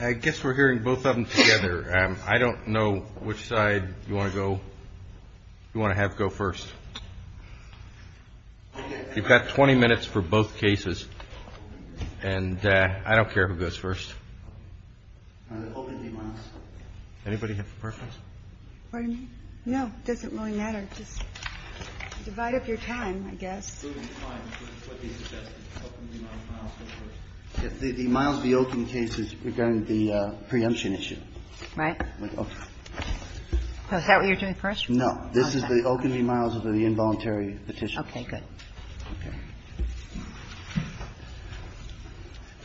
I guess we're hearing both of them together. I don't know which side you want to have go first. You've got 20 minutes for both cases, and I don't care who goes first. Anybody have a preference? Pardon me? No, it doesn't really matter. Just divide up your time, I guess. The MILES v. OKUN case is regarding the preemption issue. Right. Is that what you're doing first? No. This is the OKUN v. MILES of the involuntary petition. Okay, good.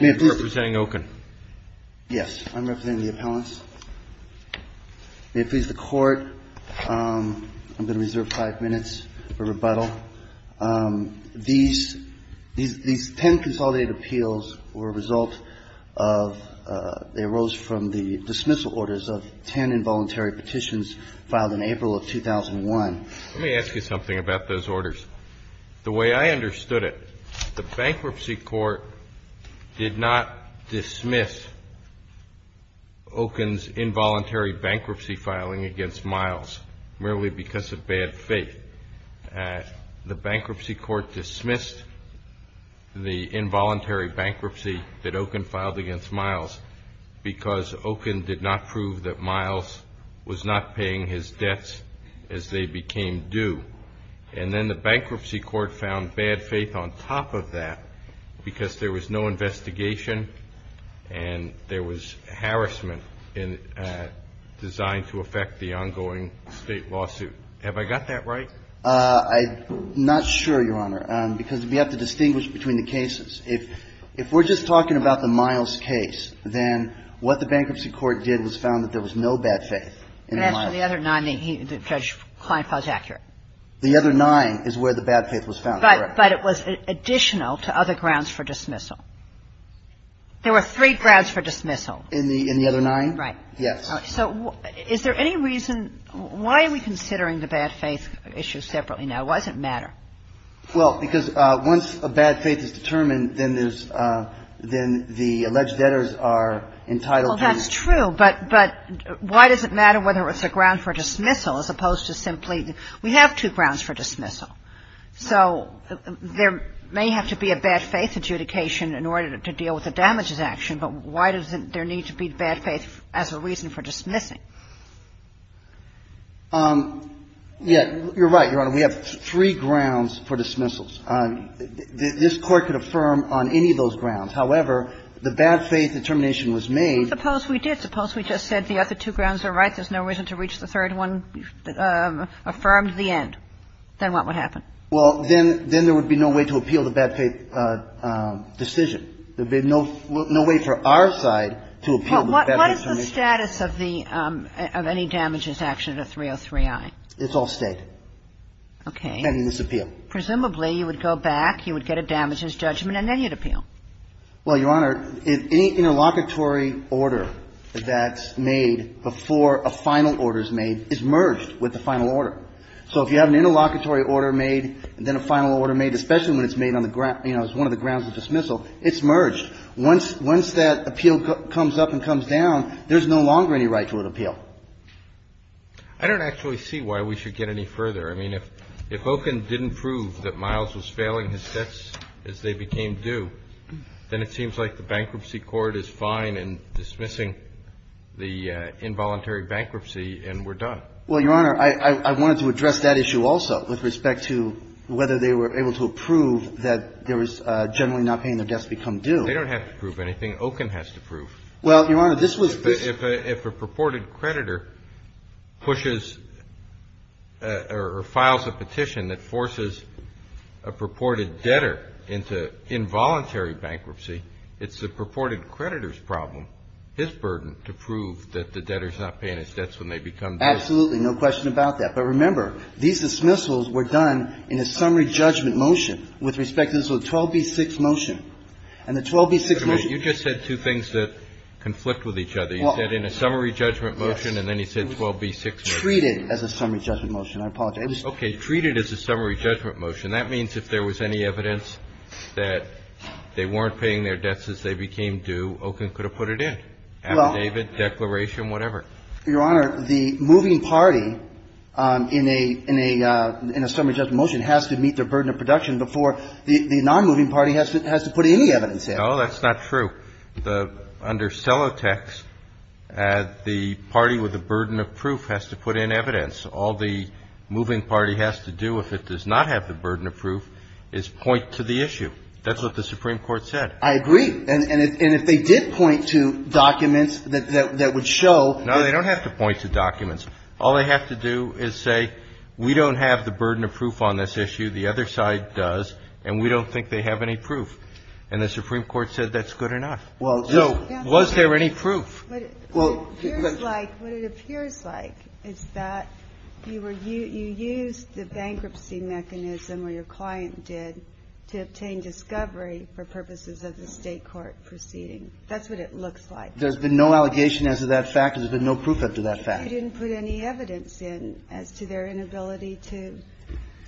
May I please? You're representing OKUN. Yes, I'm representing the appellants. May it please the Court, I'm going to reserve five minutes for rebuttal. These ten consolidated appeals were a result of the arose from the dismissal orders of ten involuntary petitions filed in April of 2001. Let me ask you something about those orders. The way I understood it, the Bankruptcy Court did not dismiss OKUN's involuntary bankruptcy filing against MILES merely because of bad faith. The Bankruptcy Court dismissed the involuntary bankruptcy that OKUN filed against MILES because OKUN did not prove that MILES was not paying his debts as they became due. And then the Bankruptcy Court found bad faith on top of that because there was no investigation and there was harassment designed to affect the ongoing state lawsuit. Have I got that right? I'm not sure, Your Honor, because we have to distinguish between the cases. If we're just talking about the MILES case, then what the Bankruptcy Court did was found that there was no bad faith in the MILES case. And as for the other nine, Judge Kleinfeld is accurate. The other nine is where the bad faith was found, correct. But it was additional to other grounds for dismissal. There were three grounds for dismissal. In the other nine? Right. Yes. So is there any reason why are we considering the bad faith issue separately now? Why does it matter? Well, because once a bad faith is determined, then there's – then the alleged debtors are entitled to – Well, that's true, but why does it matter whether it's a ground for dismissal as opposed to simply – we have two grounds for dismissal. So there may have to be a bad faith adjudication in order to deal with the damages action, but why does there need to be bad faith as a reason for dismissing? Yeah, you're right, Your Honor. We have three grounds for dismissals. This Court could affirm on any of those grounds. However, the bad faith determination was made – Suppose we did. Suppose we just said the other two grounds are right. There's no reason to reach the third one. Affirm the end. Then what would happen? Well, then there would be no way to appeal the bad faith decision. There would be no way for our side to appeal the bad faith determination. What is the status of the – of any damages action under 303i? It's all state. Okay. And it's appeal. Presumably, you would go back, you would get a damages judgment, and then you'd appeal. Well, Your Honor, any interlocutory order that's made before a final order is made is merged with the final order. So if you have an interlocutory order made, then a final order made, especially when it's made on the – you know, it's one of the grounds of dismissal, it's merged. Once that appeal comes up and comes down, there's no longer any right to an appeal. I don't actually see why we should get any further. I mean, if Okun didn't prove that Miles was failing his debts as they became due, then it seems like the bankruptcy court is fine in dismissing the involuntary bankruptcy and we're done. Well, Your Honor, I wanted to address that issue also with respect to whether they were able to approve that there was generally not paying their debts become due. They don't have to prove anything. Okun has to prove. Well, Your Honor, this was – If a purported creditor pushes or files a petition that forces a purported debtor into involuntary bankruptcy, it's the purported creditor's problem, his burden, to prove that the debtor's not paying his debts when they become due. Absolutely. No question about that. But remember, these dismissals were done in a summary judgment motion with respect to the 12B6 motion. And the 12B6 motion – Wait a minute. You just said two things that conflict with each other. You said in a summary judgment motion, and then you said 12B6 motion. Treat it as a summary judgment motion. I apologize. Okay. Treat it as a summary judgment motion. That means if there was any evidence that they weren't paying their debts as they became due, Okun could have put it in, affidavit, declaration, whatever. Your Honor, the moving party in a – in a summary judgment motion has to meet their burden of production before the nonmoving party has to put any evidence in. No, that's not true. The – under sellotext, the party with the burden of proof has to put in evidence. All the moving party has to do if it does not have the burden of proof is point to the issue. That's what the Supreme Court said. I agree. And if they did point to documents that would show – No, they don't have to point to documents. All they have to do is say, we don't have the burden of proof on this issue. The other side does. And we don't think they have any proof. And the Supreme Court said that's good enough. Well – So was there any proof? Well, it appears like – what it appears like is that you were – you used the bankruptcy mechanism or your client did to obtain discovery for purposes of the State court proceeding. That's what it looks like. There's been no allegation as to that fact. There's been no proof up to that fact. I didn't put any evidence in as to their inability to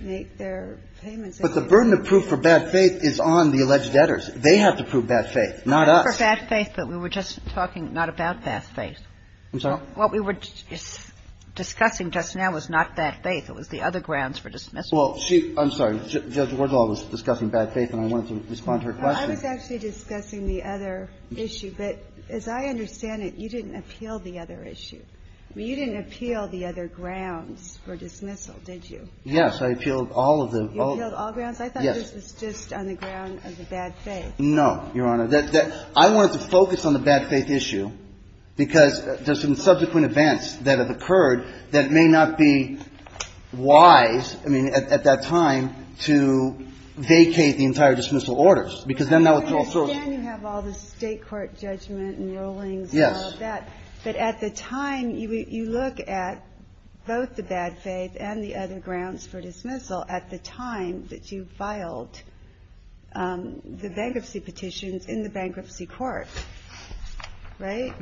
make their payments. But the burden of proof for bad faith is on the alleged debtors. They have to prove bad faith, not us. Not for bad faith, but we were just talking not about bad faith. I'm sorry? What we were discussing just now was not bad faith. It was the other grounds for dismissal. Well, she – I'm sorry. Judge Wardsall was discussing bad faith, and I wanted to respond to her question. I was actually discussing the other issue. But as I understand it, you didn't appeal the other issue. I mean, you didn't appeal the other grounds for dismissal, did you? Yes, I appealed all of them. You appealed all grounds? Yes. I thought this was just on the ground of the bad faith. No, Your Honor. I wanted to focus on the bad faith issue because there's some subsequent events that have occurred that may not be wise, I mean, at that time, to vacate the entire dismissal orders because then that would throw – Yes. But at the time, you look at both the bad faith and the other grounds for dismissal at the time that you filed the bankruptcy petitions in the bankruptcy court, right?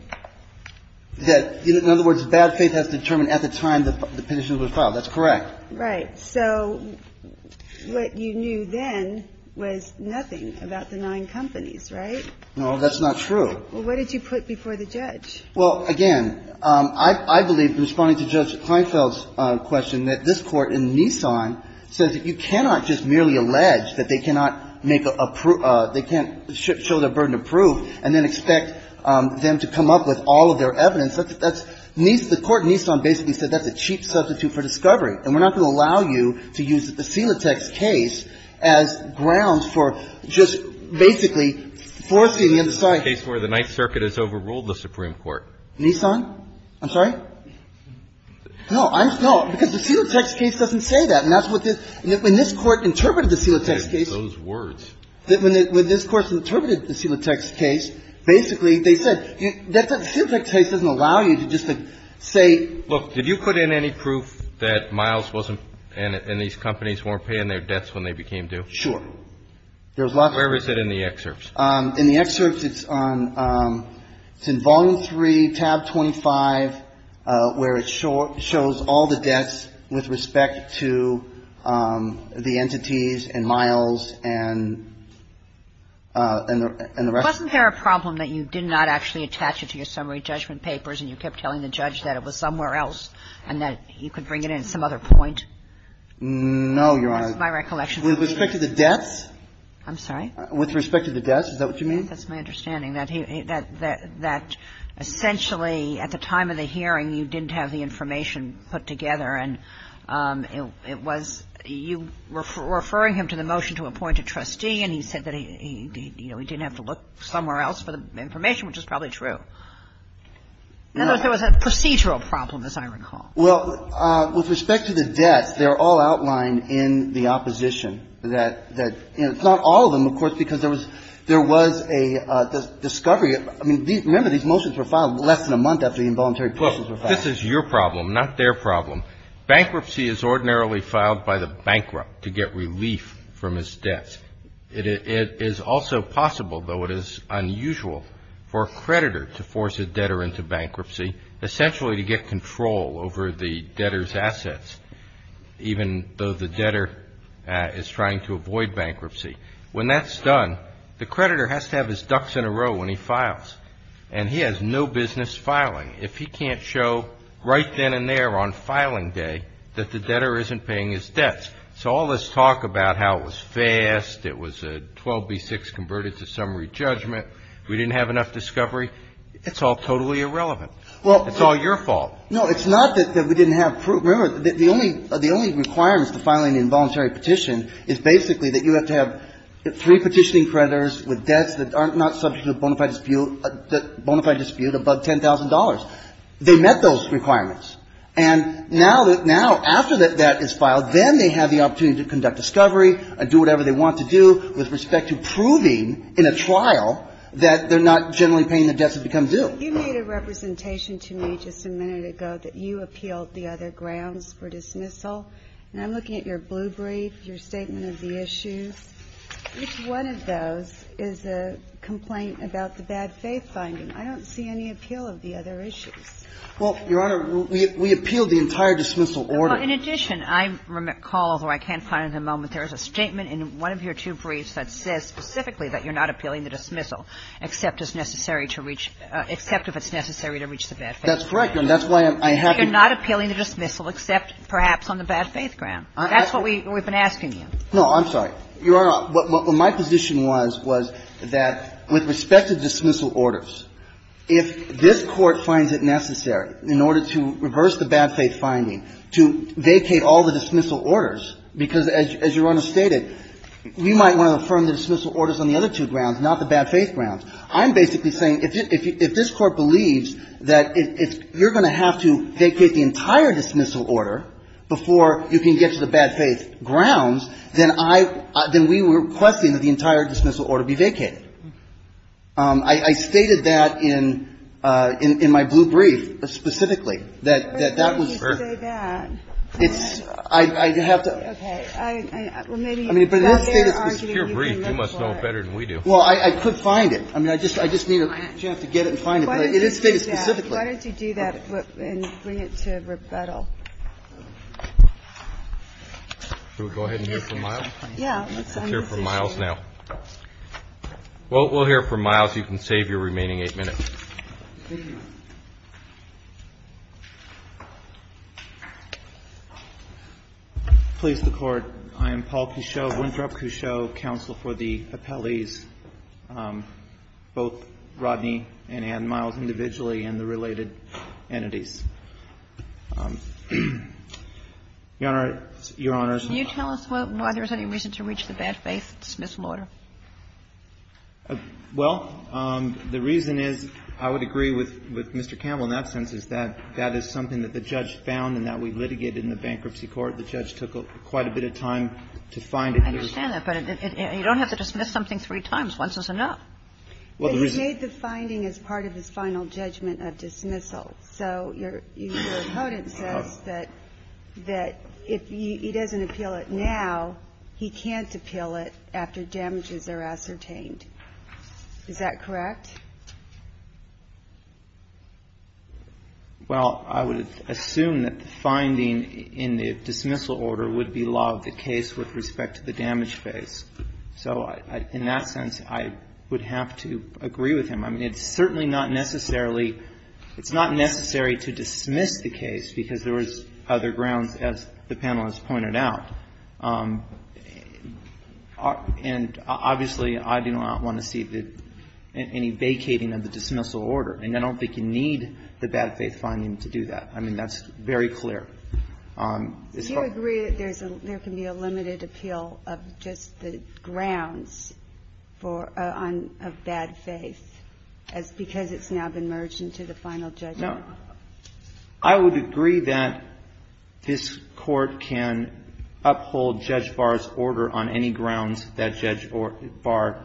In other words, bad faith has to determine at the time the petitions were filed. That's correct. Right. So what you knew then was nothing about the nine companies, right? No, that's not true. Well, what did you put before the judge? Well, again, I believe, responding to Judge Kleinfeld's question, that this Court in Nissan says that you cannot just merely allege that they cannot make a – they can't show their burden of proof and then expect them to come up with all of their evidence. That's – the Court in Nissan basically said that's a cheap substitute for discovery, and we're not going to allow you to use the Silatex case as grounds for just basically forcing the other side. That's the case where the Ninth Circuit has overruled the Supreme Court. Nissan? I'm sorry? No. No. Because the Silatex case doesn't say that, and that's what this – when this Court interpreted the Silatex case – Those words. When this Court interpreted the Silatex case, basically they said that the Silatex case doesn't allow you to just say – Look, did you put in any proof that Miles wasn't – and these companies weren't paying their debts when they became due? Sure. There was lots of – Where is it in the excerpts? In the excerpts, it's on – it's in Volume 3, Tab 25, where it shows all the debts with respect to the entities and Miles and the rest. Wasn't there a problem that you did not actually attach it to your summary judgment papers and you kept telling the judge that it was somewhere else and that you could bring it in at some other point? No, Your Honor. That's my recollection. With respect to the debts? I'm sorry? With respect to the debts, is that what you mean? That's my understanding, that he – that essentially at the time of the hearing, you didn't have the information put together, and it was – you were referring him to the motion to appoint a trustee, and he said that he – you know, he didn't have to look somewhere else for the information, which is probably true. In other words, there was a procedural problem, as I recall. Well, with respect to the debts, they're all outlined in the opposition. That – you know, it's not all of them, of course, because there was a discovery. I mean, remember, these motions were filed less than a month after the involuntary motions were filed. Look, this is your problem, not their problem. Bankruptcy is ordinarily filed by the bankrupt to get relief from his debts. It is also possible, though it is unusual, for a creditor to force a debtor into bankruptcy, essentially to get control over the debtor's assets, even though the debtor is trying to avoid bankruptcy. When that's done, the creditor has to have his ducks in a row when he files, and he has no business filing if he can't show right then and there on filing day that the debtor isn't paying his debts. So all this talk about how it was fast, it was a 12B6 converted to summary judgment, we didn't have enough discovery, it's all totally irrelevant. It's all your fault. No, it's not that we didn't have proof. Remember, the only requirements to filing an involuntary petition is basically that you have to have three petitioning creditors with debts that are not subject to a bona fide dispute above $10,000. They met those requirements. And now that now, after that debt is filed, then they have the opportunity to conduct discovery and do whatever they want to do with respect to proving in a trial that they're not generally paying the debts that become due. You made a representation to me just a minute ago that you appealed the other grounds for dismissal, and I'm looking at your blue brief, your statement of the issues. Each one of those is a complaint about the bad faith finding. I don't see any appeal of the other issues. Well, Your Honor, we appealed the entire dismissal order. Well, in addition, I recall, although I can't find it at the moment, there is a statement in one of your two briefs that says specifically that you're not appealing the dismissal except as necessary to reach – except if it's necessary to reach the bad faith ground. That's correct, Your Honor. That's why I'm happy. You're not appealing the dismissal except perhaps on the bad faith ground. That's what we've been asking you. No, I'm sorry. Your Honor, what my position was, was that with respect to dismissal orders, if this Court finds it necessary in order to reverse the bad faith finding to vacate all the dismissal orders, you might want to affirm the dismissal orders on the other two grounds, not the bad faith grounds. I'm basically saying if this Court believes that you're going to have to vacate the entire dismissal order before you can get to the bad faith grounds, then I – then we were requesting that the entire dismissal order be vacated. I stated that in my blue brief specifically, that that was – But you didn't say that. It's – I have to – Okay. Well, maybe you got their argument. I mean, but it is stated specifically. It's a pure brief. You must know it better than we do. Well, I could find it. I mean, I just need a chance to get it and find it. But it is stated specifically. Why don't you do that and bring it to rebuttal? Should we go ahead and hear from Miles? Yeah. Let's hear from Miles now. Well, we'll hear from Miles. You can save your remaining eight minutes. Thank you. Please, the Court. I am Paul Couchot, Winthrop Couchot, counsel for the appellees, both Rodney and Ann Miles individually and the related entities. Your Honor, Your Honors. Can you tell us why there's any reason to reach the bad faith dismissal order? Well, the reason is, I would agree with Mr. Campbell in that sense, is that that is something that the judge found and that we litigated in the bankruptcy court. The judge took quite a bit of time to find it. I understand that. But you don't have to dismiss something three times. Once is enough. Well, the reason – But he made the finding as part of his final judgment of dismissal. So your opponent says that if he doesn't appeal it now, he can't appeal it after damages are ascertained. Is that correct? Well, I would assume that the finding in the dismissal order would be law of the case with respect to the damage face. So in that sense, I would have to agree with him. I mean, it's certainly not necessarily – it's not necessary to dismiss the case because there is other grounds, as the panel has pointed out. And obviously, I do not want to see any vacating of the dismissal order. And I don't think you need the bad faith finding to do that. I mean, that's very clear. Do you agree that there can be a limited appeal of just the grounds for – of bad faith because it's now been merged into the final judgment? No. I would agree that this Court can uphold Judge Barr's order on any grounds that Judge Barr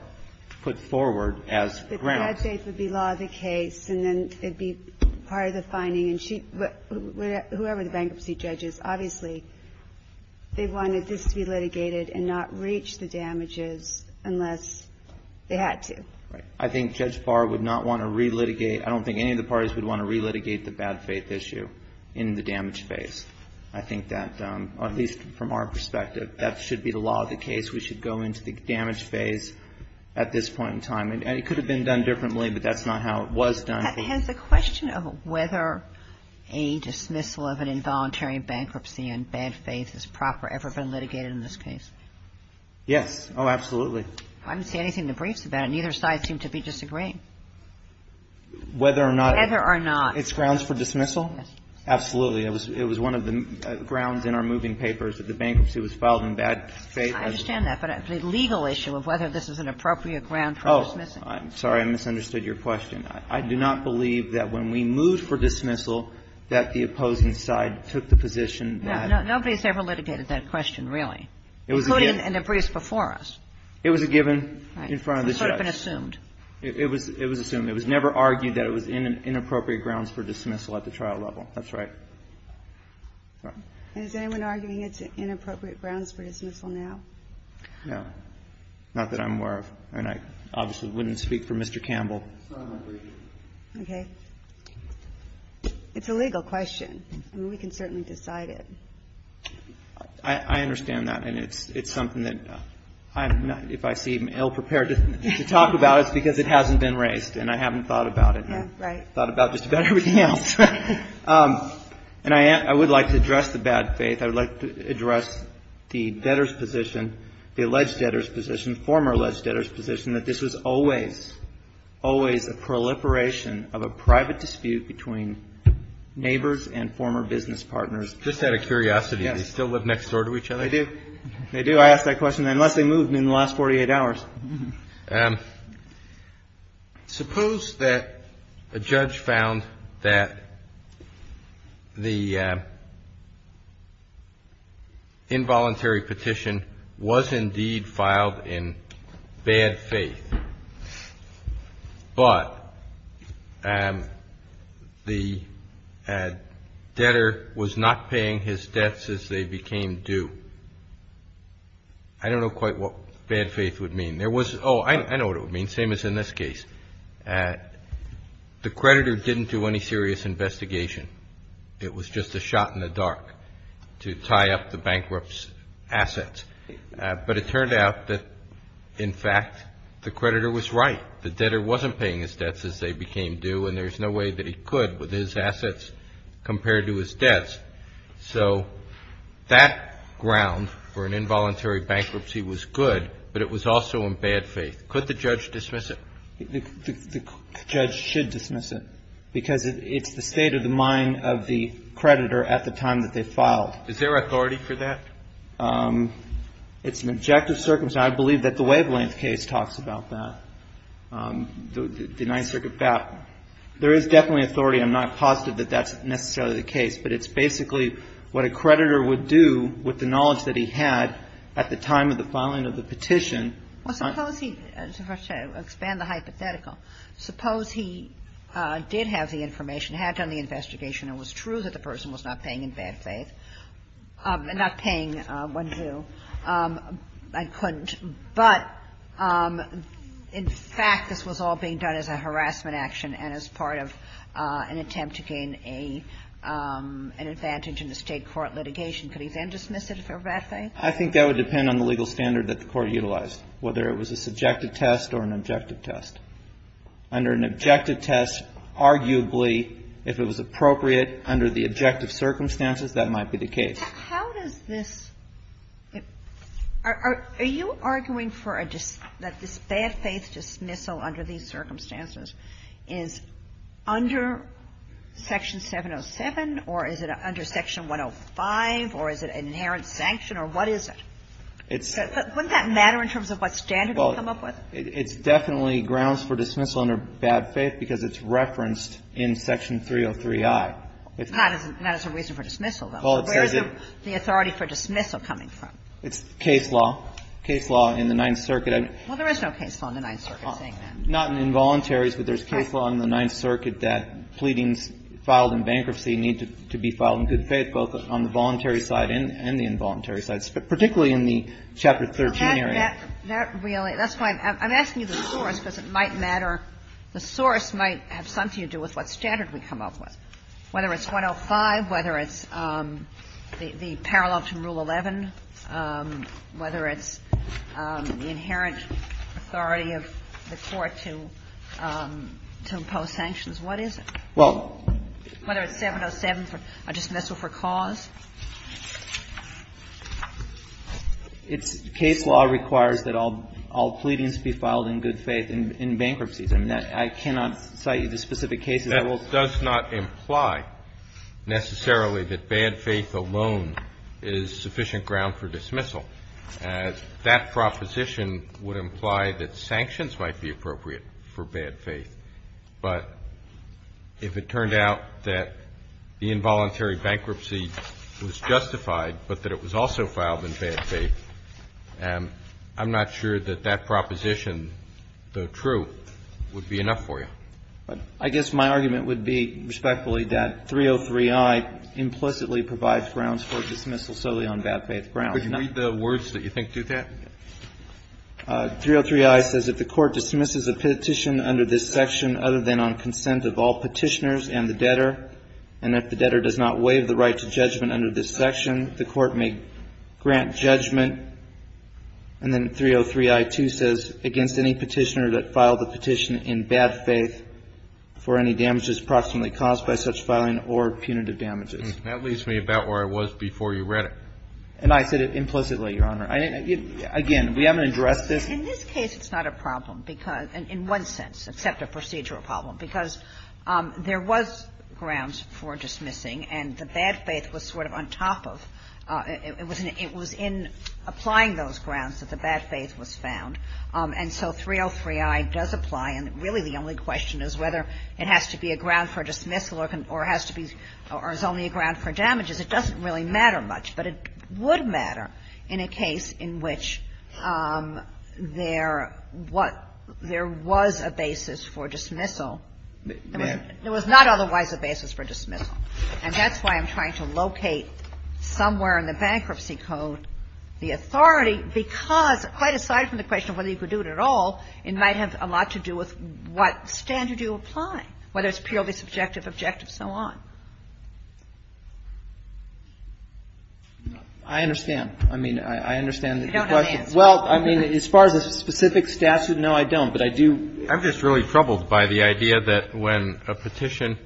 put forward as grounds. The bad faith would be law of the case, and then it would be part of the finding. And she – whoever the bankruptcy judge is, obviously, they wanted this to be litigated and not reach the damages unless they had to. Right. I think Judge Barr would not want to relitigate – I don't think any of the parties would want to relitigate the bad faith issue in the damage phase. I think that, at least from our perspective, that should be the law of the case. We should go into the damage phase at this point in time. And it could have been done differently, but that's not how it was done. Has the question of whether a dismissal of an involuntary bankruptcy and bad faith is proper ever been litigated in this case? Yes. Oh, absolutely. I didn't see anything in the briefs about it. Neither side seemed to be disagreeing. Whether or not – Whether or not – It's grounds for dismissal? Yes. Absolutely. It was one of the grounds in our moving papers that the bankruptcy was filed in bad faith. I understand that. But the legal issue of whether this is an appropriate ground for dismissal. Oh, I'm sorry. I misunderstood your question. I do not believe that when we moved for dismissal that the opposing side took the position that – Nobody's ever litigated that question, really. It was a given. Including in the briefs before us. It was a given in front of the judge. Right. It could have been assumed. It was assumed. It was never argued that it was inappropriate grounds for dismissal at the trial level. That's right. Is anyone arguing it's inappropriate grounds for dismissal now? No. Not that I'm aware of. I mean, I obviously wouldn't speak for Mr. Campbell. Okay. It's a legal question. I mean, we can certainly decide it. I understand that. And it's something that I'm not – if I seem ill-prepared to talk about it, it's because it hasn't been raised. And I haven't thought about it. Right. I've thought about just about everything else. And I would like to address the bad faith. I would like to address the debtor's position, the alleged debtor's position, former alleged debtor's position, that this was always, always a proliferation of a private dispute between neighbors and former business partners. Just out of curiosity, do they still live next door to each other? They do. They do. I asked that question. Unless they moved in the last 48 hours. Well, suppose that a judge found that the involuntary petition was indeed filed in bad faith, but the debtor was not paying his debts as they became due. I don't know quite what bad faith would mean. There was – oh, I know what it would mean, same as in this case. The creditor didn't do any serious investigation. It was just a shot in the dark to tie up the bankrupt's assets. But it turned out that, in fact, the creditor was right. The debtor wasn't paying his debts as they became due, and there's no way that he could with his assets compared to his debts. So that ground for an involuntary bankruptcy was good, but it was also in bad faith. Could the judge dismiss it? The judge should dismiss it because it's the state of the mind of the creditor at the time that they filed. Is there authority for that? It's an objective circumstance. I believe that the Wavelength case talks about that, the Ninth Circuit battle. There is definitely authority. I'm not positive that that's necessarily the case, but it's basically what a creditor would do with the knowledge that he had at the time of the filing of the petition. Well, suppose he – to expand the hypothetical. Suppose he did have the information, had done the investigation, and it was true that the person was not paying in bad faith – not paying when due. I couldn't. But, in fact, this was all being done as a harassment action and as part of an attempt to gain a – an advantage in the State court litigation. Could he then dismiss it for bad faith? I think that would depend on the legal standard that the Court utilized, whether it was a subjective test or an objective test. Under an objective test, arguably, if it was appropriate under the objective circumstances, that might be the case. How does this – are you arguing for a – that this bad faith dismissal under these circumstances is under Section 707, or is it under Section 105, or is it an inherent sanction, or what is it? Wouldn't that matter in terms of what standard you come up with? Well, it's definitely grounds for dismissal under bad faith because it's referenced in Section 303i. Not as a reason for dismissal, though. So where's the authority for dismissal coming from? It's case law. Case law in the Ninth Circuit. Well, there is no case law in the Ninth Circuit saying that. Not in involuntaries, but there's case law in the Ninth Circuit that pleadings filed in bankruptcy need to be filed in good faith, both on the voluntary side and the involuntary side, particularly in the Chapter 13 area. That really – that's why I'm asking you the source because it might matter. The source might have something to do with what standard we come up with, whether it's 105, whether it's the parallel to Rule 11, whether it's the inherent authority of the Court to impose sanctions. What is it? Well – Whether it's 707 for a dismissal for cause? It's case law requires that all pleadings be filed in good faith in bankruptcies. I mean, I cannot cite you the specific cases. That does not imply necessarily that bad faith alone is sufficient ground for dismissal. That proposition would imply that sanctions might be appropriate for bad faith. But if it turned out that the involuntary bankruptcy was justified, but that it was also filed in bad faith, I'm not sure that that proposition, though true, would be enough for you. I guess my argument would be respectfully that 303i implicitly provides grounds for dismissal solely on bad faith grounds. Could you read the words that you think do that? 303i says, If the Court dismisses a petition under this section other than on consent of all Petitioners and the Debtor, and if the Debtor does not waive the right to judgment under this section, the Court may grant judgment. And then 303i-2 says, Against any Petitioner that filed the petition in bad faith for any damages approximately caused by such filing or punitive damages. That leads me about where I was before you read it. And I said it implicitly, Your Honor. Again, we haven't addressed this. In this case, it's not a problem because, in one sense, except a procedural problem, because there was grounds for dismissing, and the bad faith was sort of on top of, it was in applying those grounds that the bad faith was found. And so 303i does apply, and really the only question is whether it has to be a ground for dismissal or has to be, or is only a ground for damages. It doesn't really matter much. But it would matter in a case in which there was a basis for dismissal. There was not otherwise a basis for dismissal. And that's why I'm trying to locate somewhere in the Bankruptcy Code the authority because, quite aside from the question of whether you could do it at all, it might have a lot to do with what standard you apply, whether it's purely subjective, objective, so on. I understand. I mean, I understand the question. Well, I mean, as far as the specific statute, no, I don't. I'm just really troubled by the idea that when a petition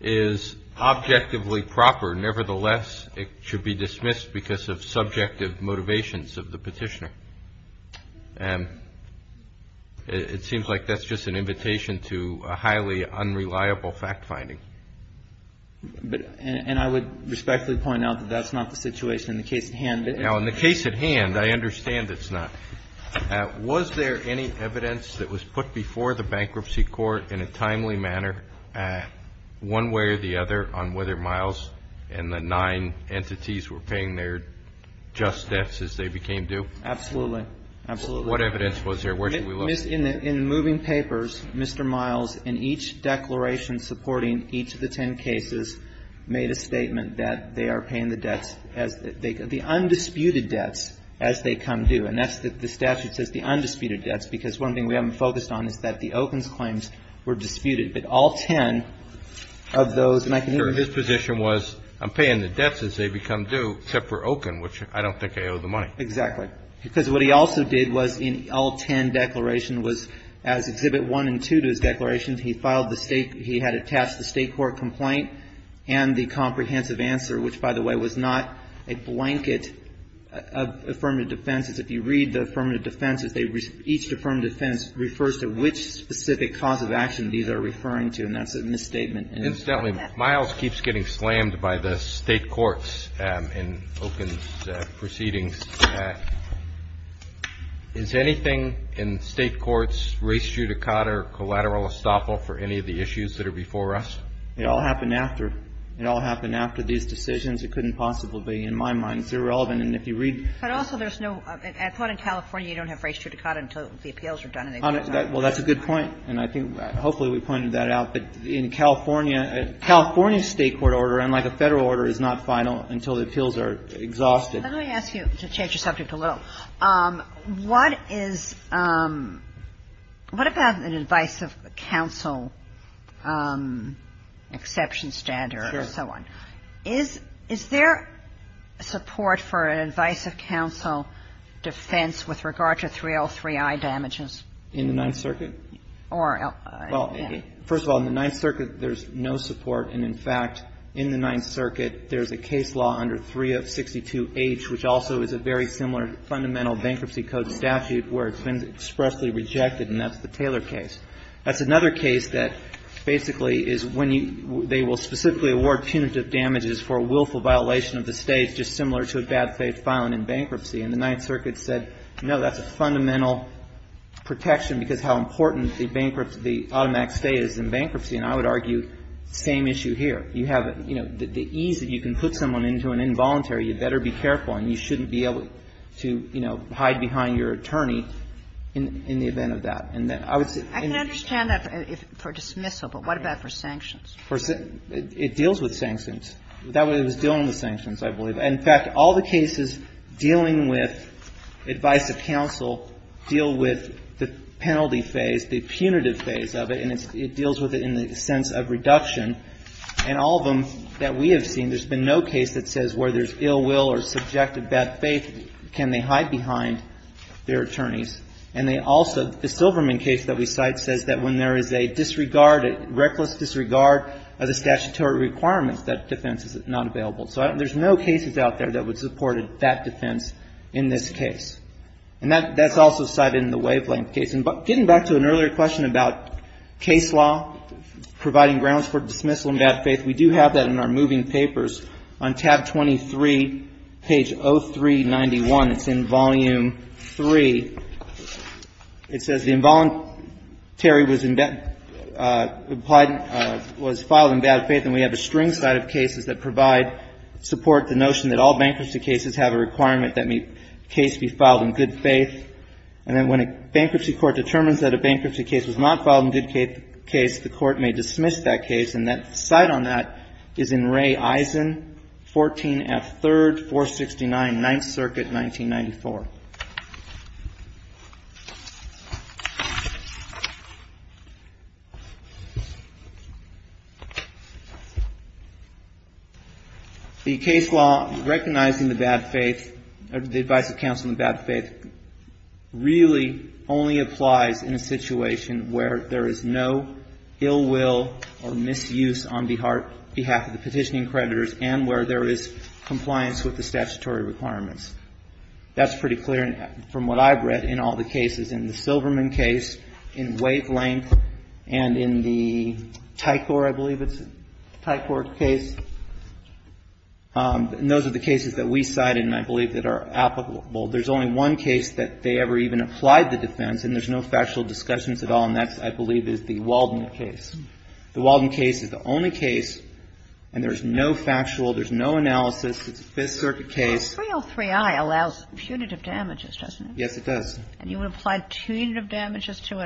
is objectively proper, nevertheless, it should be dismissed because of subjective motivations of the petitioner. And it seems like that's just an invitation to a highly unreliable fact-finding. And I would respectfully point out that that's not the situation in the case at hand. Now, in the case at hand, I understand it's not. Was there any evidence that was put before the bankruptcy court in a timely manner, one way or the other, on whether Miles and the nine entities were paying their just debts as they became due? Absolutely. Absolutely. What evidence was there? Where should we look? In the moving papers, Mr. Miles, in each declaration supporting each of the ten cases, made a statement that they are paying the debts, the undisputed debts, as they come due. And that's what the statute says, the undisputed debts, because one thing we haven't focused on is that the Okun's claims were disputed, but all ten of those. And I can hear you. Sure. His position was, I'm paying the debts as they become due, except for Okun, which I don't think I owe the money. Exactly. Because what he also did was, in all ten declarations, was as Exhibit 1 and 2 to his declarations, he filed the State – he had attached the State court complaint and the comprehensive answer, which, by the way, was not a blanket of affirmative defenses. If you read the affirmative defenses, each affirmative defense refers to which specific cause of action these are referring to, and that's a misstatement. Incidentally, Miles keeps getting slammed by the State courts in Okun's proceedings. Is anything in State courts, race judicata, or collateral estoppel for any of the issues that are before us? It all happened after. It all happened after these decisions. It couldn't possibly be, in my mind. It's irrelevant. And if you read – But also, there's no – I thought in California you don't have race judicata until the appeals are done and they've been done. Well, that's a good point. And I think – hopefully we pointed that out. But in California, a California State court order, unlike a Federal order, is not final until the appeals are exhausted. Let me ask you – to change the subject a little. What is – what about an advice of counsel exception standard or so on? Is there support for an advice of counsel defense with regard to 3L3I damages? In the Ninth Circuit? Or – Well, first of all, in the Ninth Circuit, there's no support. And, in fact, in the Ninth Circuit, there's a case law under 3062H, which also is a very similar fundamental bankruptcy code statute where it's been expressly rejected, and that's the Taylor case. That's another case that basically is when you – they will specifically award punitive damages for a willful violation of the State, just similar to a bad faith filing in bankruptcy. And the Ninth Circuit said, no, that's a fundamental protection because how important the bankruptcy – the automatic State is in bankruptcy. And I would argue the same issue here. You have – you know, the ease that you can put someone into an involuntary, you better be careful, and you shouldn't be able to, you know, hide behind your attorney in the event of that. And I would say – I can understand that for dismissal, but what about for sanctions? For – it deals with sanctions. It was dealing with sanctions, I believe. And, in fact, all the cases dealing with advice of counsel deal with the penalty phase, the punitive phase of it, and it deals with it in the sense of reduction. And all of them that we have seen, there's been no case that says where there's ill will or subjective bad faith, can they hide behind their attorneys. And they also – the Silverman case that we cite says that when there is a disregard, a reckless disregard of the statutory requirements, that defense is not available. So there's no cases out there that would support that defense in this case. And that's also cited in the Wavelength case. And getting back to an earlier question about case law providing grounds for dismissal in bad faith, we do have that in our moving papers. On tab 23, page 0391, it's in volume 3. It says the involuntary was filed in bad faith, and we have a string set of cases that provide support to the notion that all bankruptcy cases have a requirement that a case be filed in good faith. And then when a bankruptcy court determines that a bankruptcy case was not filed in good faith, the court may dismiss that case. And the cite on that is in Ray Eisen, 14 F. 3rd, 469, 9th Circuit, 1994. The case law recognizing the bad faith, the advice of counsel in bad faith, really only applies in a situation where there is no ill will or misuse on behalf of the petitioning creditors and where there is compliance with the statutory requirements. That's pretty clear from what I've read in all the cases, in the Silverman case, in Wavelength, and in the Tycor, I believe it's Tycor case. And those are the cases that we cited and I believe that are applicable. There's only one case that they ever even applied the defense, and there's no factual discussions at all, and that, I believe, is the Walden case. The Walden case is the only case, and there's no factual, there's no analysis. It's a Fifth Circuit case. The 303i allows punitive damages, doesn't it? Yes, it does. And you would apply punitive damages to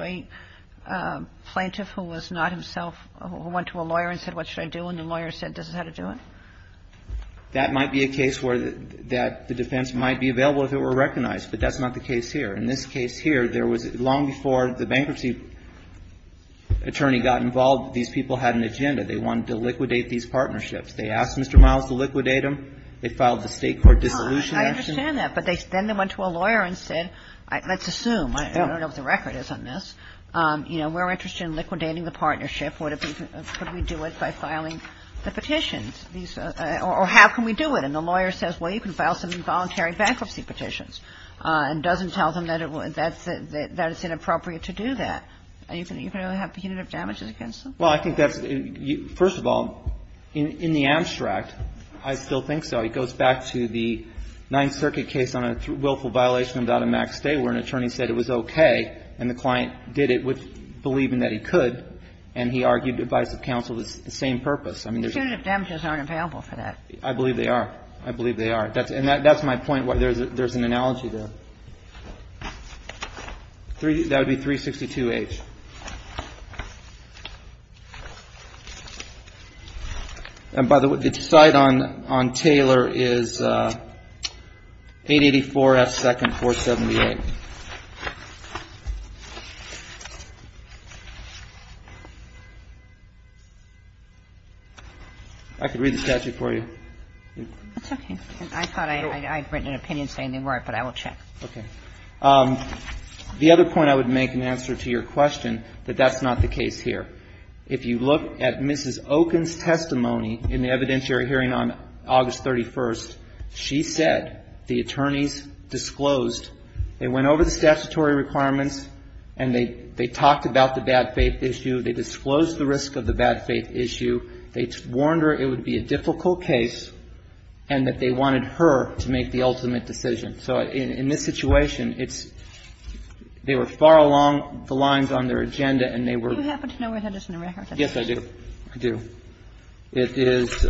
a plaintiff who was not himself, who went to a lawyer and said, what should I do, and the lawyer said, this is how to do it? That might be a case where the defense might be available if it were recognized, but that's not the case here. In this case here, there was, long before the bankruptcy attorney got involved, these people had an agenda. They wanted to liquidate these partnerships. They asked Mr. Miles to liquidate them. They filed the State court dissolution action. I understand that, but then they went to a lawyer and said, let's assume, I don't know if the record is on this, you know, we're interested in liquidating the partnership. Could we do it by filing the petitions? Or how can we do it? And the lawyer says, well, you can file some involuntary bankruptcy petitions and doesn't tell them that it's inappropriate to do that. You can only have punitive damages against them. Well, I think that's, first of all, in the abstract, I still think so. It goes back to the Ninth Circuit case on a willful violation without a max stay, where an attorney said it was okay, and the client did it believing that he could. And he argued divisive counsel was the same purpose. I mean, there's not. But punitive damages aren't available for that. I believe they are. I believe they are. And that's my point. There's an analogy there. That would be 362H. And by the way, the decide on Taylor is 884S.2478. I could read the statute for you. That's okay. I thought I had written an opinion saying they weren't, but I will check. Okay. The other point I would make in answer to your question, that that's not the case here. If you look at Mrs. Oken's testimony in the evidentiary hearing on August 31st, she said the attorneys disclosed, they went over the statutory requirements and they talked about the bad faith issue. They disclosed the risk of the bad faith issue. They warned her it would be a difficult case and that they wanted her to make the ultimate decision. So in this situation, it's, they were far along the lines on their agenda and they were. Do you happen to know where Henderson and Red Heart is? Yes, I do. I do. It is,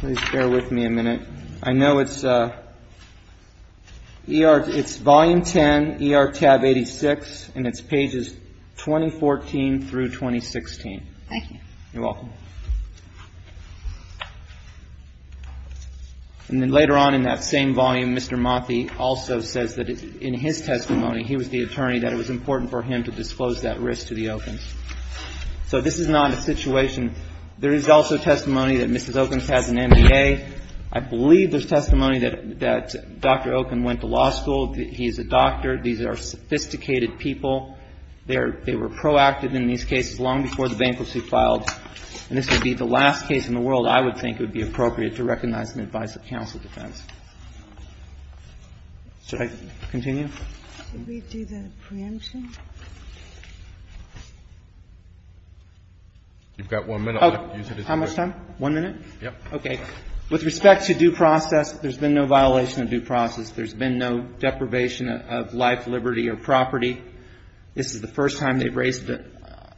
please bear with me a minute. I know it's ER, it's volume 10, ER tab 86, and it's pages 2014 through 2016. Thank you. You're welcome. And then later on in that same volume, Mr. Mothy also says that in his testimony, he was the attorney, that it was important for him to disclose that risk to the Oken's. So this is not a situation. There is also testimony that Mrs. Oken's has an MBA. I believe there's testimony that Dr. Oken went to law school. He's a doctor. These are sophisticated people. They were proactive in these cases long before the bankruptcy filed. And this would be the last case in the world I would think would be appropriate to recognize and advise the counsel defense. Should I continue? Should we do the preemption? You've got one minute left. How much time? One minute? Yes. Okay. With respect to due process, there's been no violation of due process. There's been no deprivation of life, liberty, or property. This is the first time they've raised it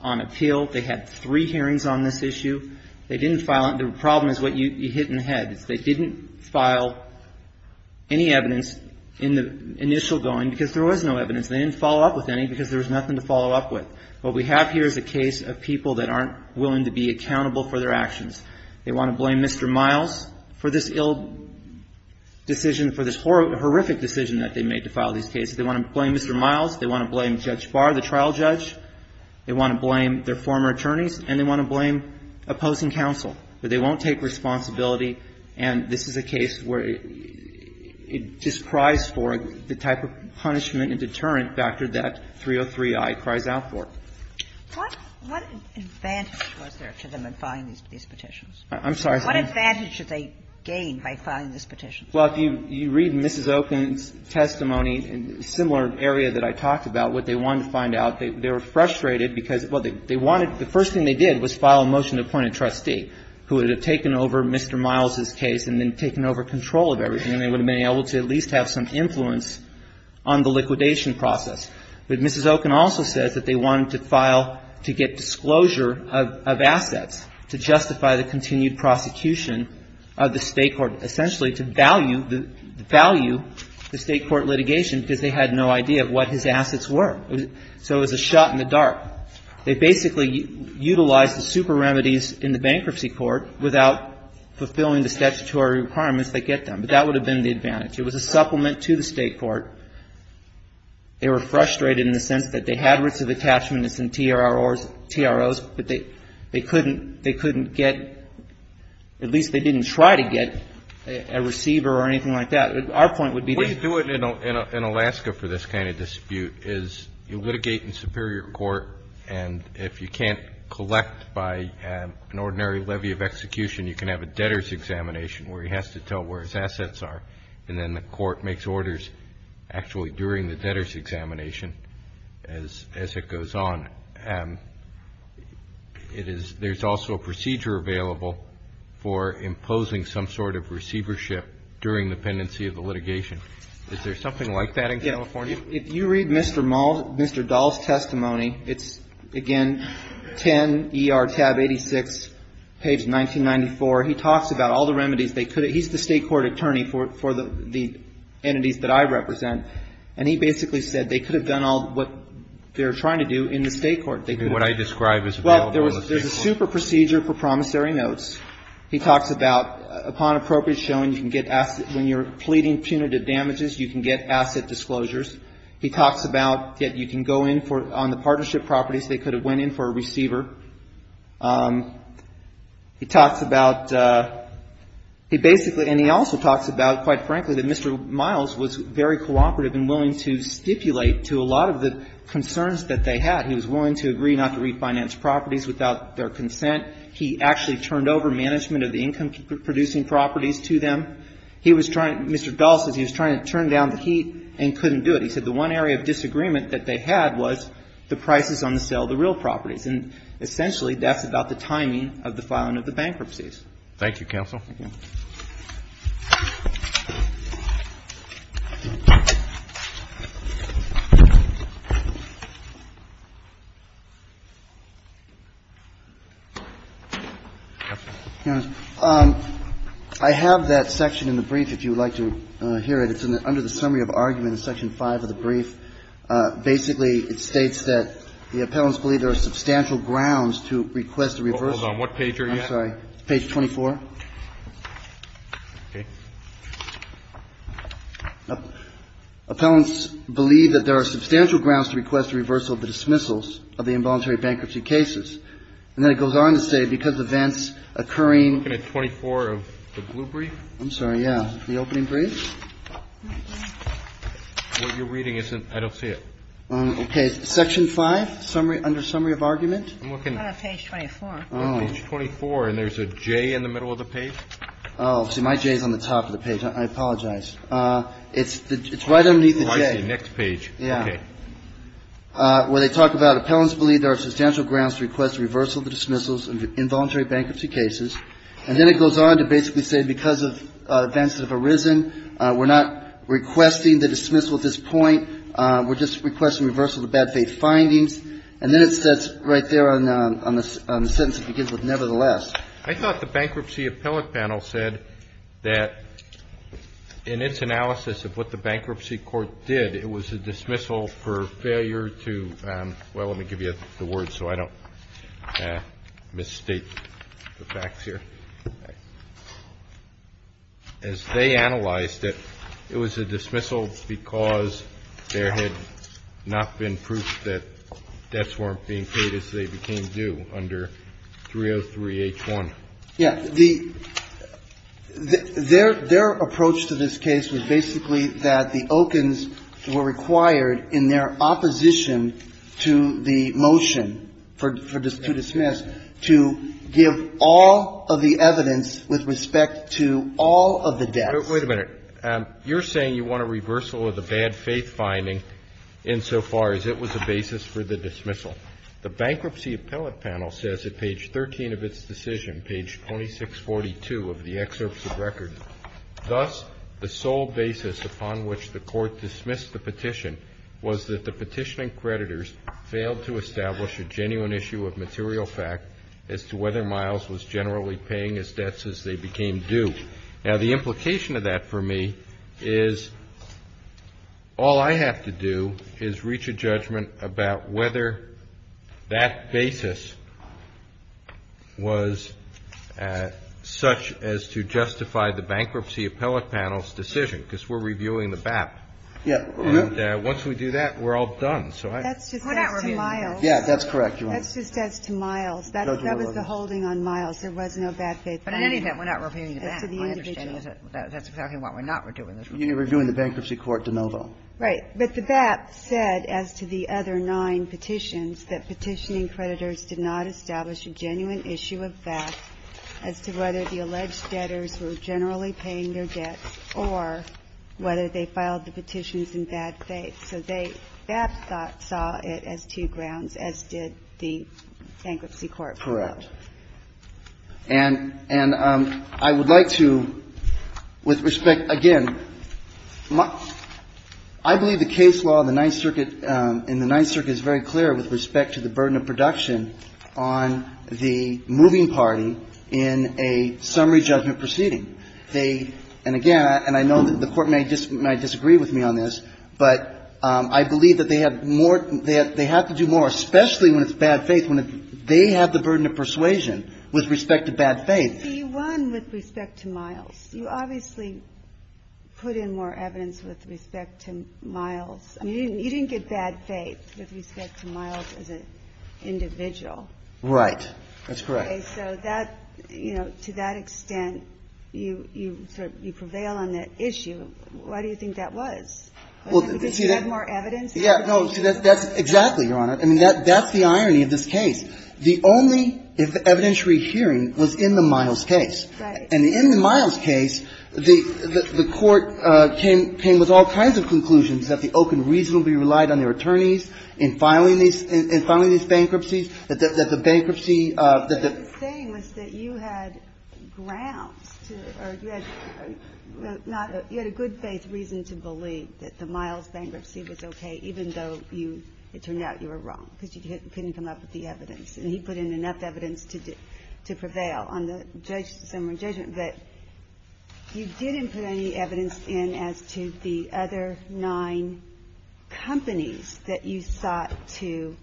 on appeal. They had three hearings on this issue. They didn't file it. The problem is what you hit in the head. They didn't file any evidence in the initial going because there was no evidence. They didn't follow up with any because there was nothing to follow up with. What we have here is a case of people that aren't willing to be accountable for their actions. They want to blame Mr. Miles for this ill decision, for this horrific decision that they made to file these cases. They want to blame Mr. Miles. They want to blame Judge Barr, the trial judge. They want to blame their former attorneys. And they want to blame opposing counsel. But they won't take responsibility, and this is a case where it just cries for the type of punishment and deterrent factor that 303i cries out for. What advantage was there to them in filing these petitions? I'm sorry. What advantage did they gain by filing these petitions? Well, if you read Mrs. Open's testimony in a similar area that I talked about, what they wanted to find out, they were frustrated because, well, they wanted the first thing they did was file a motion to appoint a trustee who would have taken over Mr. Miles's case and then taken over control of everything, and they would have been able to at least have some influence on the liquidation process. But Mrs. Open also says that they wanted to file to get disclosure of assets to justify the continued prosecution of the State court, essentially to value the State court litigation because they had no idea what his assets were. So it was a shot in the dark. They basically utilized the super remedies in the bankruptcy court without fulfilling the statutory requirements that get them. But that would have been the advantage. It was a supplement to the State court. They were frustrated in the sense that they had writs of attachment as in TROs, but they couldn't get at least they didn't try to get a receiver or anything like that. Our point would be that. What you do in Alaska for this kind of dispute is you litigate in superior court, and if you can't collect by an ordinary levy of execution, you can have a debtor's examination where he has to tell where his assets are, and then the court makes orders actually during the debtor's examination as it goes on. There's also a procedure available for imposing some sort of receivership during the pendency of the litigation. Is there something like that in California? Yeah. If you read Mr. Muld, Mr. Dahl's testimony, it's, again, 10 ER tab 86, page 1994. He talks about all the remedies they could have. He's the State court attorney for the entities that I represent, and he basically said they could have done all what they're trying to do in the State court. What I describe as available in the State court. Well, there's a super procedure for promissory notes. He talks about, upon appropriate showing, you can get assets. When you're pleading punitive damages, you can get asset disclosures. He talks about that you can go in for, on the partnership properties, they could have went in for a receiver. He talks about, he basically, and he also talks about, quite frankly, that Mr. Miles was very cooperative and willing to stipulate to a lot of the concerns that they had. He was willing to agree not to refinance properties without their consent. He actually turned over management of the income-producing properties to them. He was trying, Mr. Dahl says he was trying to turn down the heat and couldn't do it. He said the one area of disagreement that they had was the prices on the sale of the real properties. And essentially, that's about the timing of the filing of the bankruptcies. Thank you, counsel. I have that section in the brief, if you would like to hear it. It's under the summary of argument in section 5 of the brief. Basically, it states that the appellants believe there are substantial grounds to request a reversal. Hold on. What page are you at? Page 24. Okay. Appellants believe that there are substantial grounds to request a reversal of the dismissals of the involuntary bankruptcy cases. And then it goes on to say, because events occurring at 24 of the blue brief. I'm sorry. Yeah. The opening brief. What you're reading isn't – I don't see it. Okay. Section 5, summary – under summary of argument. I'm looking at page 24. Oh. Page 24. And there's a J in the middle of the page? Oh. See, my J is on the top of the page. I apologize. It's right underneath the J. Oh, I see. Next page. Yeah. Okay. Where they talk about appellants believe there are substantial grounds to request a reversal of the dismissals of involuntary bankruptcy cases. And then it goes on to basically say, because events have arisen, we're not requesting the dismissal at this point. We're just requesting reversal of the bad faith findings. And then it says right there on the sentence it begins with, nevertheless. I thought the bankruptcy appellate panel said that in its analysis of what the bankruptcy court did, it was a dismissal for failure to – well, let me give you the words so I don't misstate the facts here. Okay. As they analyzed it, it was a dismissal because there had not been proof that the debts weren't being paid as they became due under 303-H1. Yeah. The – their approach to this case was basically that the Okins were required in their opposition to the motion for – to dismiss to give all of the evidence with respect to all of the debts. Wait a minute. You're saying you want a reversal of the bad faith finding insofar as it was a basis for the dismissal. The bankruptcy appellate panel says at page 13 of its decision, page 2642 of the excerpt of record, thus the sole basis upon which the court dismissed the petition was that the petitioning creditors failed to establish a genuine issue of material fact as to whether Miles was generally paying his debts as they became due. Now, the implication of that for me is all I have to do is reach a judgment about whether that basis was such as to justify the bankruptcy appellate panel's decision, because we're reviewing the BAP. Yeah. And once we do that, we're all done. That's just as to Miles. We're not reviewing the BAP. Yeah, that's correct, Your Honor. That's just as to Miles. That was the holding on Miles. There was no bad faith finding. But in any event, we're not reviewing the BAP. My understanding is that that's exactly what we're not reviewing. You're reviewing the bankruptcy court de novo. Right. But the BAP said, as to the other nine petitions, that petitioning creditors did not establish a genuine issue of fact as to whether the alleged debtors were generally paying their debts or whether they filed the petitions in bad faith. So they, BAP saw it as two grounds, as did the bankruptcy court. Correct. And I would like to, with respect, again, I believe the case law in the Ninth Circuit is very clear with respect to the burden of production on the moving party in a summary judgment proceeding. They, and again, and I know that the Court may disagree with me on this, but I believe that they have more, they have to do more, especially when it's bad faith, when they have the burden of persuasion with respect to bad faith. You won with respect to Miles. You obviously put in more evidence with respect to Miles. I mean, you didn't get bad faith with respect to Miles as an individual. Right. That's correct. Okay. So that, you know, to that extent, you sort of, you prevail on that issue. Why do you think that was? Because you have more evidence? Yeah. No. See, that's exactly, Your Honor. I mean, that's the irony of this case. The only evidentiary hearing was in the Miles case. Right. And in the Miles case, the Court came with all kinds of conclusions, that the Oakland reasonably relied on their attorneys in filing these, in filing these bankruptcies, that the bankruptcy, that the ---- What you're saying was that you had grounds to, or you had not, you had a good faith reason to believe that the Miles bankruptcy was okay, even though you, it turned out you were wrong, because you couldn't come up with the evidence. And he put in enough evidence to prevail on the judge's summary judgment. But you didn't put any evidence in as to the other nine companies that you sought to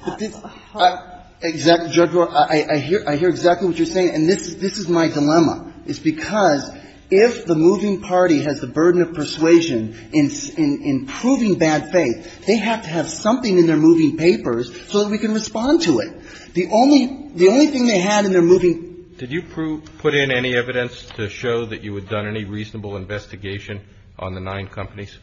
---- But this ---- Exactly, Judge Brewer. I hear exactly what you're saying. And this is my dilemma. It's because if the moving party has the burden of persuasion in proving bad faith, they have to have something in their moving papers so that we can respond to it. The only thing they had in their moving ---- Did you put in any evidence to show that you had done any reasonable investigation on the nine companies?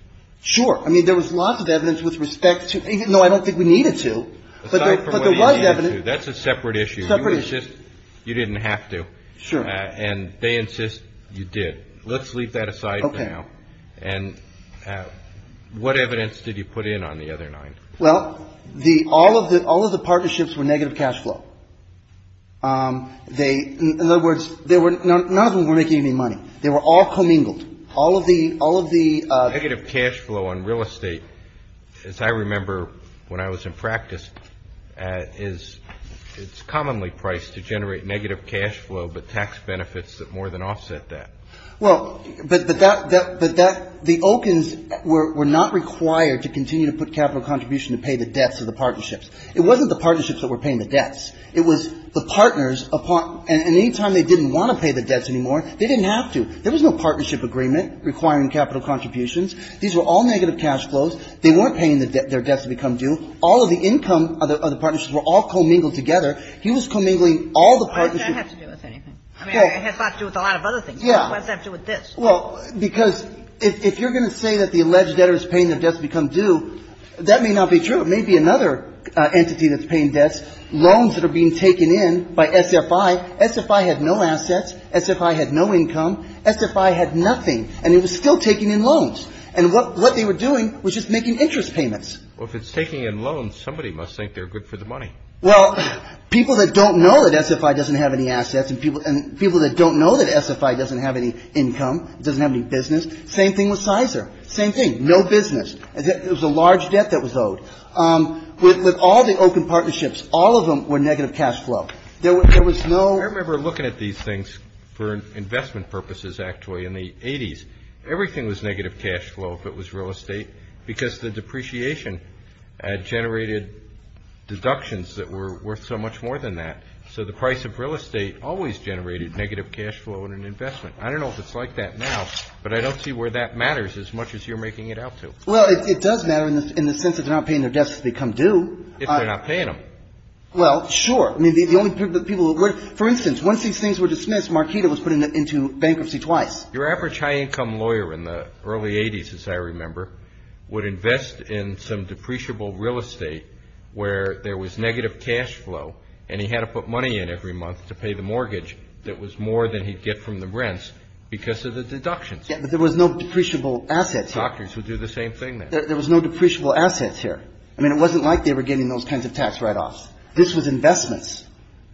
Sure. I mean, there was lots of evidence with respect to ---- No, I don't think we needed to. But there was evidence ---- Aside from what you needed to, that's a separate issue. Separate issue. You were just, you didn't have to. Sure. And they insist you did. Let's leave that aside for now. Okay. And what evidence did you put in on the other nine? Well, all of the partnerships were negative cash flow. In other words, none of them were making any money. They were all commingled. All of the ---- Negative cash flow on real estate, as I remember when I was in practice, is it's commonly priced to generate negative cash flow, but tax benefits that more than offset that. Well, but that, the Okins were not required to continue to put capital contribution to pay the debts of the partnerships. It wasn't the partnerships that were paying the debts. It was the partners, and any time they didn't want to pay the debts anymore, they didn't have to. There was no partnership agreement requiring capital contributions. These were all negative cash flows. They weren't paying their debts to become due. And all of the income of the partnerships were all commingled together. He was commingling all the partnerships. Why does that have to do with anything? I mean, it has a lot to do with a lot of other things. Yeah. Why does that have to do with this? Well, because if you're going to say that the alleged debtor is paying their debts to become due, that may not be true. It may be another entity that's paying debts. Loans that are being taken in by SFI. SFI had no assets. SFI had no income. SFI had nothing. And it was still taking in loans. And what they were doing was just making interest payments. Well, if it's taking in loans, somebody must think they're good for the money. Well, people that don't know that SFI doesn't have any assets and people that don't know that SFI doesn't have any income, doesn't have any business, same thing with Sizer. Same thing. No business. It was a large debt that was owed. With all the open partnerships, all of them were negative cash flow. There was no – I remember looking at these things for investment purposes, actually, in the 80s. Everything was negative cash flow if it was real estate because the depreciation generated deductions that were worth so much more than that. So the price of real estate always generated negative cash flow in an investment. I don't know if it's like that now, but I don't see where that matters as much as you're making it out to. Well, it does matter in the sense that they're not paying their debts to become due. If they're not paying them. Well, sure. I mean, the only people who would – for instance, once these things were dismissed, Markita was put into bankruptcy twice. Your average high-income lawyer in the early 80s, as I remember, would invest in some depreciable real estate where there was negative cash flow and he had to put money in every month to pay the mortgage that was more than he'd get from the rents because of the deductions. Yeah, but there was no depreciable assets here. Doctors would do the same thing then. There was no depreciable assets here. I mean, it wasn't like they were getting those kinds of tax write-offs. This was investments.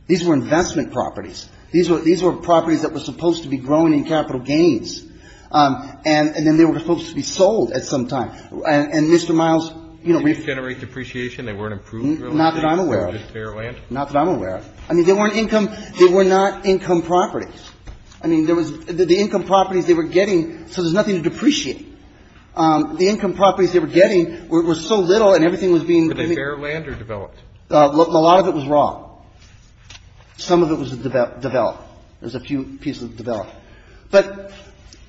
These were investment properties. These were properties that were supposed to be growing in capital gains. And then they were supposed to be sold at some time. And Mr. Miles, you know – Did they generate depreciation? They weren't improved real estate? Not that I'm aware of. They were just fair land? Not that I'm aware of. I mean, they weren't income – they were not income properties. I mean, there was – the income properties they were getting – so there's nothing to depreciate. The income properties they were getting were so little and everything was being – Were they fair land or developed? A lot of it was raw. Some of it was developed. There was a few pieces developed. But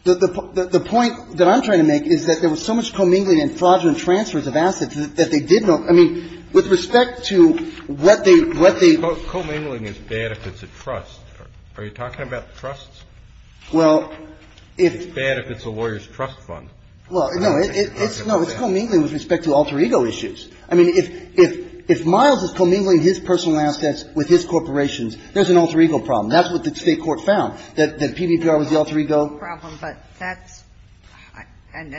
the point that I'm trying to make is that there was so much commingling and fraudulent transfers of assets that they did not – I mean, with respect to what they – what they – Commingling is bad if it's a trust. Are you talking about trusts? Well, if – It's bad if it's a lawyer's trust fund. Well, no, it's – no, it's commingling with respect to alter ego issues. I mean, if – if Miles is commingling his personal assets with his corporations, there's an alter ego problem. That's what the State court found, that PVPR was the alter ego problem. But that's – and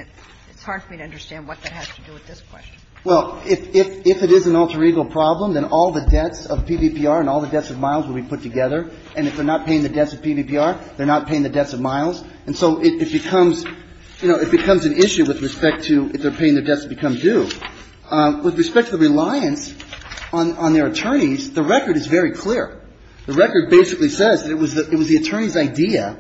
it's hard for me to understand what that has to do with this question. Well, if it is an alter ego problem, then all the debts of PVPR and all the debts of Miles would be put together. And if they're not paying the debts of PVPR, they're not paying the debts of Miles. And so it becomes – you know, it becomes an issue with respect to if they're paying their debts, it becomes due. With respect to the reliance on their attorneys, the record is very clear. The record basically says that it was the attorney's idea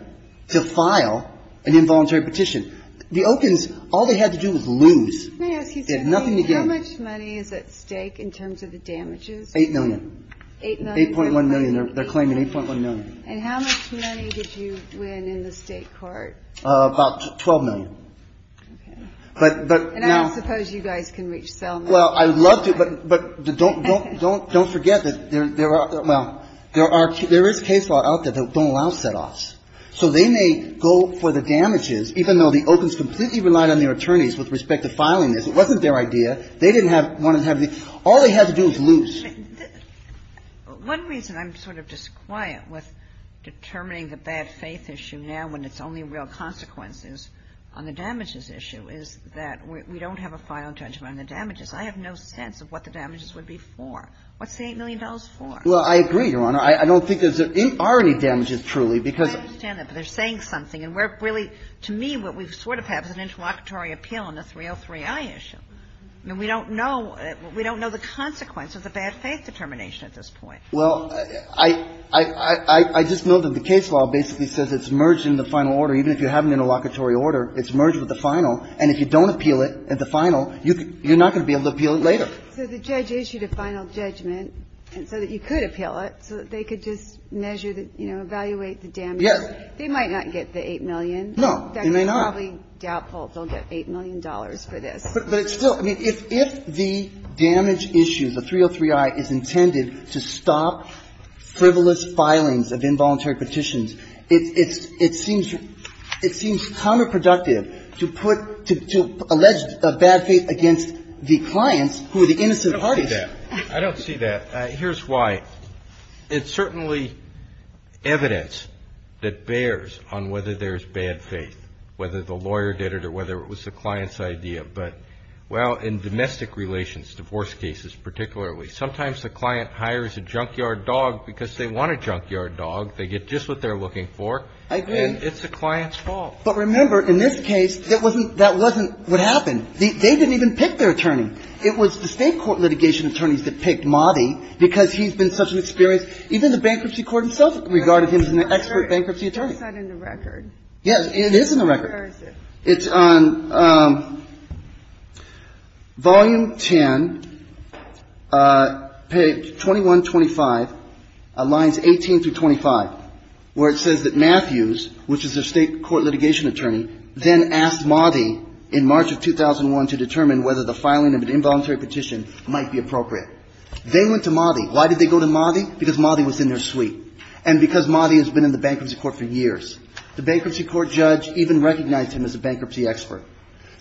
to file an involuntary petition. The Okins, all they had to do was lose. May I ask you something? How much money is at stake in terms of the damages? $8 million. $8 million? $8.1 million. They're claiming $8.1 million. And how much money did you win in the State court? About $12 million. Okay. But now – And I don't suppose you guys can reach $12 million. Well, I would love to, but don't forget that there are – well, there is case law out there that don't allow setoffs. So they may go for the damages, even though the Okins completely relied on their attorneys with respect to filing this. It wasn't their idea. They didn't want to have the – all they had to do was lose. One reason I'm sort of disquiet with determining the bad faith issue now when it's only real consequences on the damages issue is that we don't have a final judgment on the damages. I have no sense of what the damages would be for. What's the $8 million for? Well, I agree, Your Honor. I don't think there are any damages, truly, because – I understand that, but they're saying something. And we're really – to me, what we sort of have is an interlocutory appeal on the 303i issue. I mean, we don't know – we don't know the consequence of the bad faith determination at this point. Well, I just know that the case law basically says it's merged in the final order. Even if you have an interlocutory order, it's merged with the final. And if you don't appeal it at the final, you're not going to be able to appeal it later. So the judge issued a final judgment so that you could appeal it, so that they could just measure the – you know, evaluate the damages. Yes. They might not get the $8 million. No, they may not. They're probably doubtful they'll get $8 million for this. But it's still – I mean, if the damage issue, the 303i, is intended to stop frivolous filings of involuntary petitions, it seems counterproductive to put – to allege bad faith against the clients who are the innocent parties. I don't see that. I don't see that. Here's why. It's certainly evidence that bears on whether there's bad faith, whether the lawyer did it, or whether it was the client's idea. But, well, in domestic relations, divorce cases particularly, sometimes the client hires a junkyard dog because they want a junkyard dog. They get just what they're looking for. I agree. And it's the client's fault. But remember, in this case, that wasn't what happened. They didn't even pick their attorney. It was the State court litigation attorneys that picked Motti because he's been such an experienced – even the bankruptcy court himself regarded him as an expert bankruptcy attorney. That's not in the record. Yes, it is in the record. Where is it? It's on volume 10, page 2125, lines 18 through 25, where it says that Matthews, which is their State court litigation attorney, then asked Motti in March of 2001 to determine whether the filing of an involuntary petition might be appropriate. They went to Motti. Why did they go to Motti? Because Motti was in their suite. And because Motti has been in the bankruptcy court for years. The bankruptcy court judge even recognized him as a bankruptcy expert.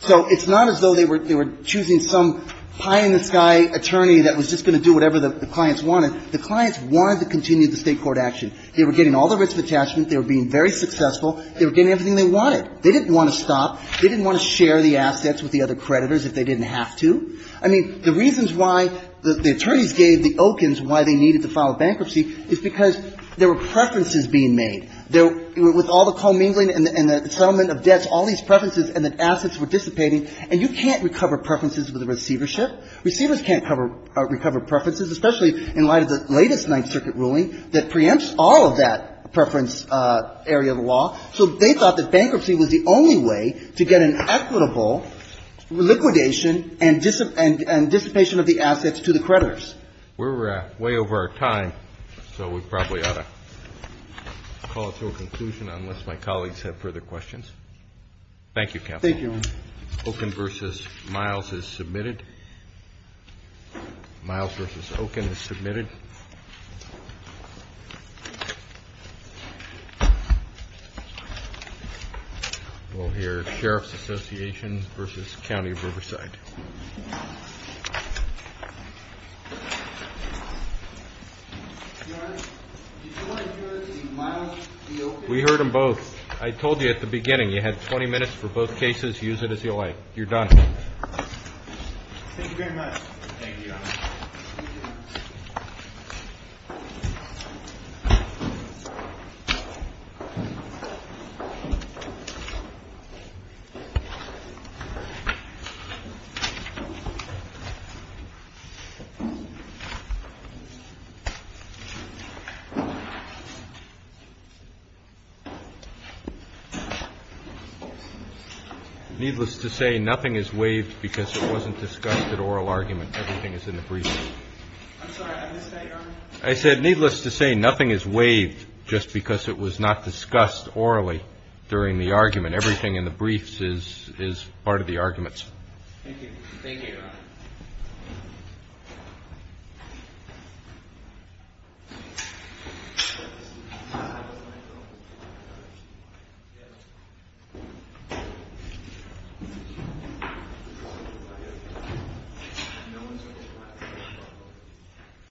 So it's not as though they were choosing some high-in-the-sky attorney that was just going to do whatever the clients wanted. The clients wanted to continue the State court action. They were getting all the writs of attachment. They were being very successful. They were getting everything they wanted. They didn't want to stop. They didn't want to share the assets with the other creditors if they didn't have to. I mean, the reasons why the attorneys gave the Okins why they needed to file bankruptcy is because there were preferences being made. With all the commingling and the settlement of debts, all these preferences and the assets were dissipating. And you can't recover preferences with a receivership. Receivers can't recover preferences, especially in light of the latest Ninth Circuit ruling that preempts all of that preference area of law. So they thought that bankruptcy was the only way to get an equitable liquidation and dissipation of the assets to the creditors. We're way over our time, so we probably ought to call it to a conclusion unless my colleagues have further questions. Thank you, Counsel. Thank you. Okin v. Miles is submitted. Miles v. Okin is submitted. We'll hear Sheriff's Association v. County of Riverside. Your Honor, did you want to hear the Miles v. Okin? We heard them both. I told you at the beginning you had 20 minutes for both cases. Use it as you like. You're done. Thank you very much. Thank you, Your Honor. Needless to say, nothing is waived because it wasn't discussed at oral argument. Everything is in the briefs. I'm sorry. I missed that, Your Honor. I said needless to say, nothing is waived just because it was not discussed orally during the argument. Everything in the briefs is part of the arguments. Thank you. Thank you, Your Honor. Thank you.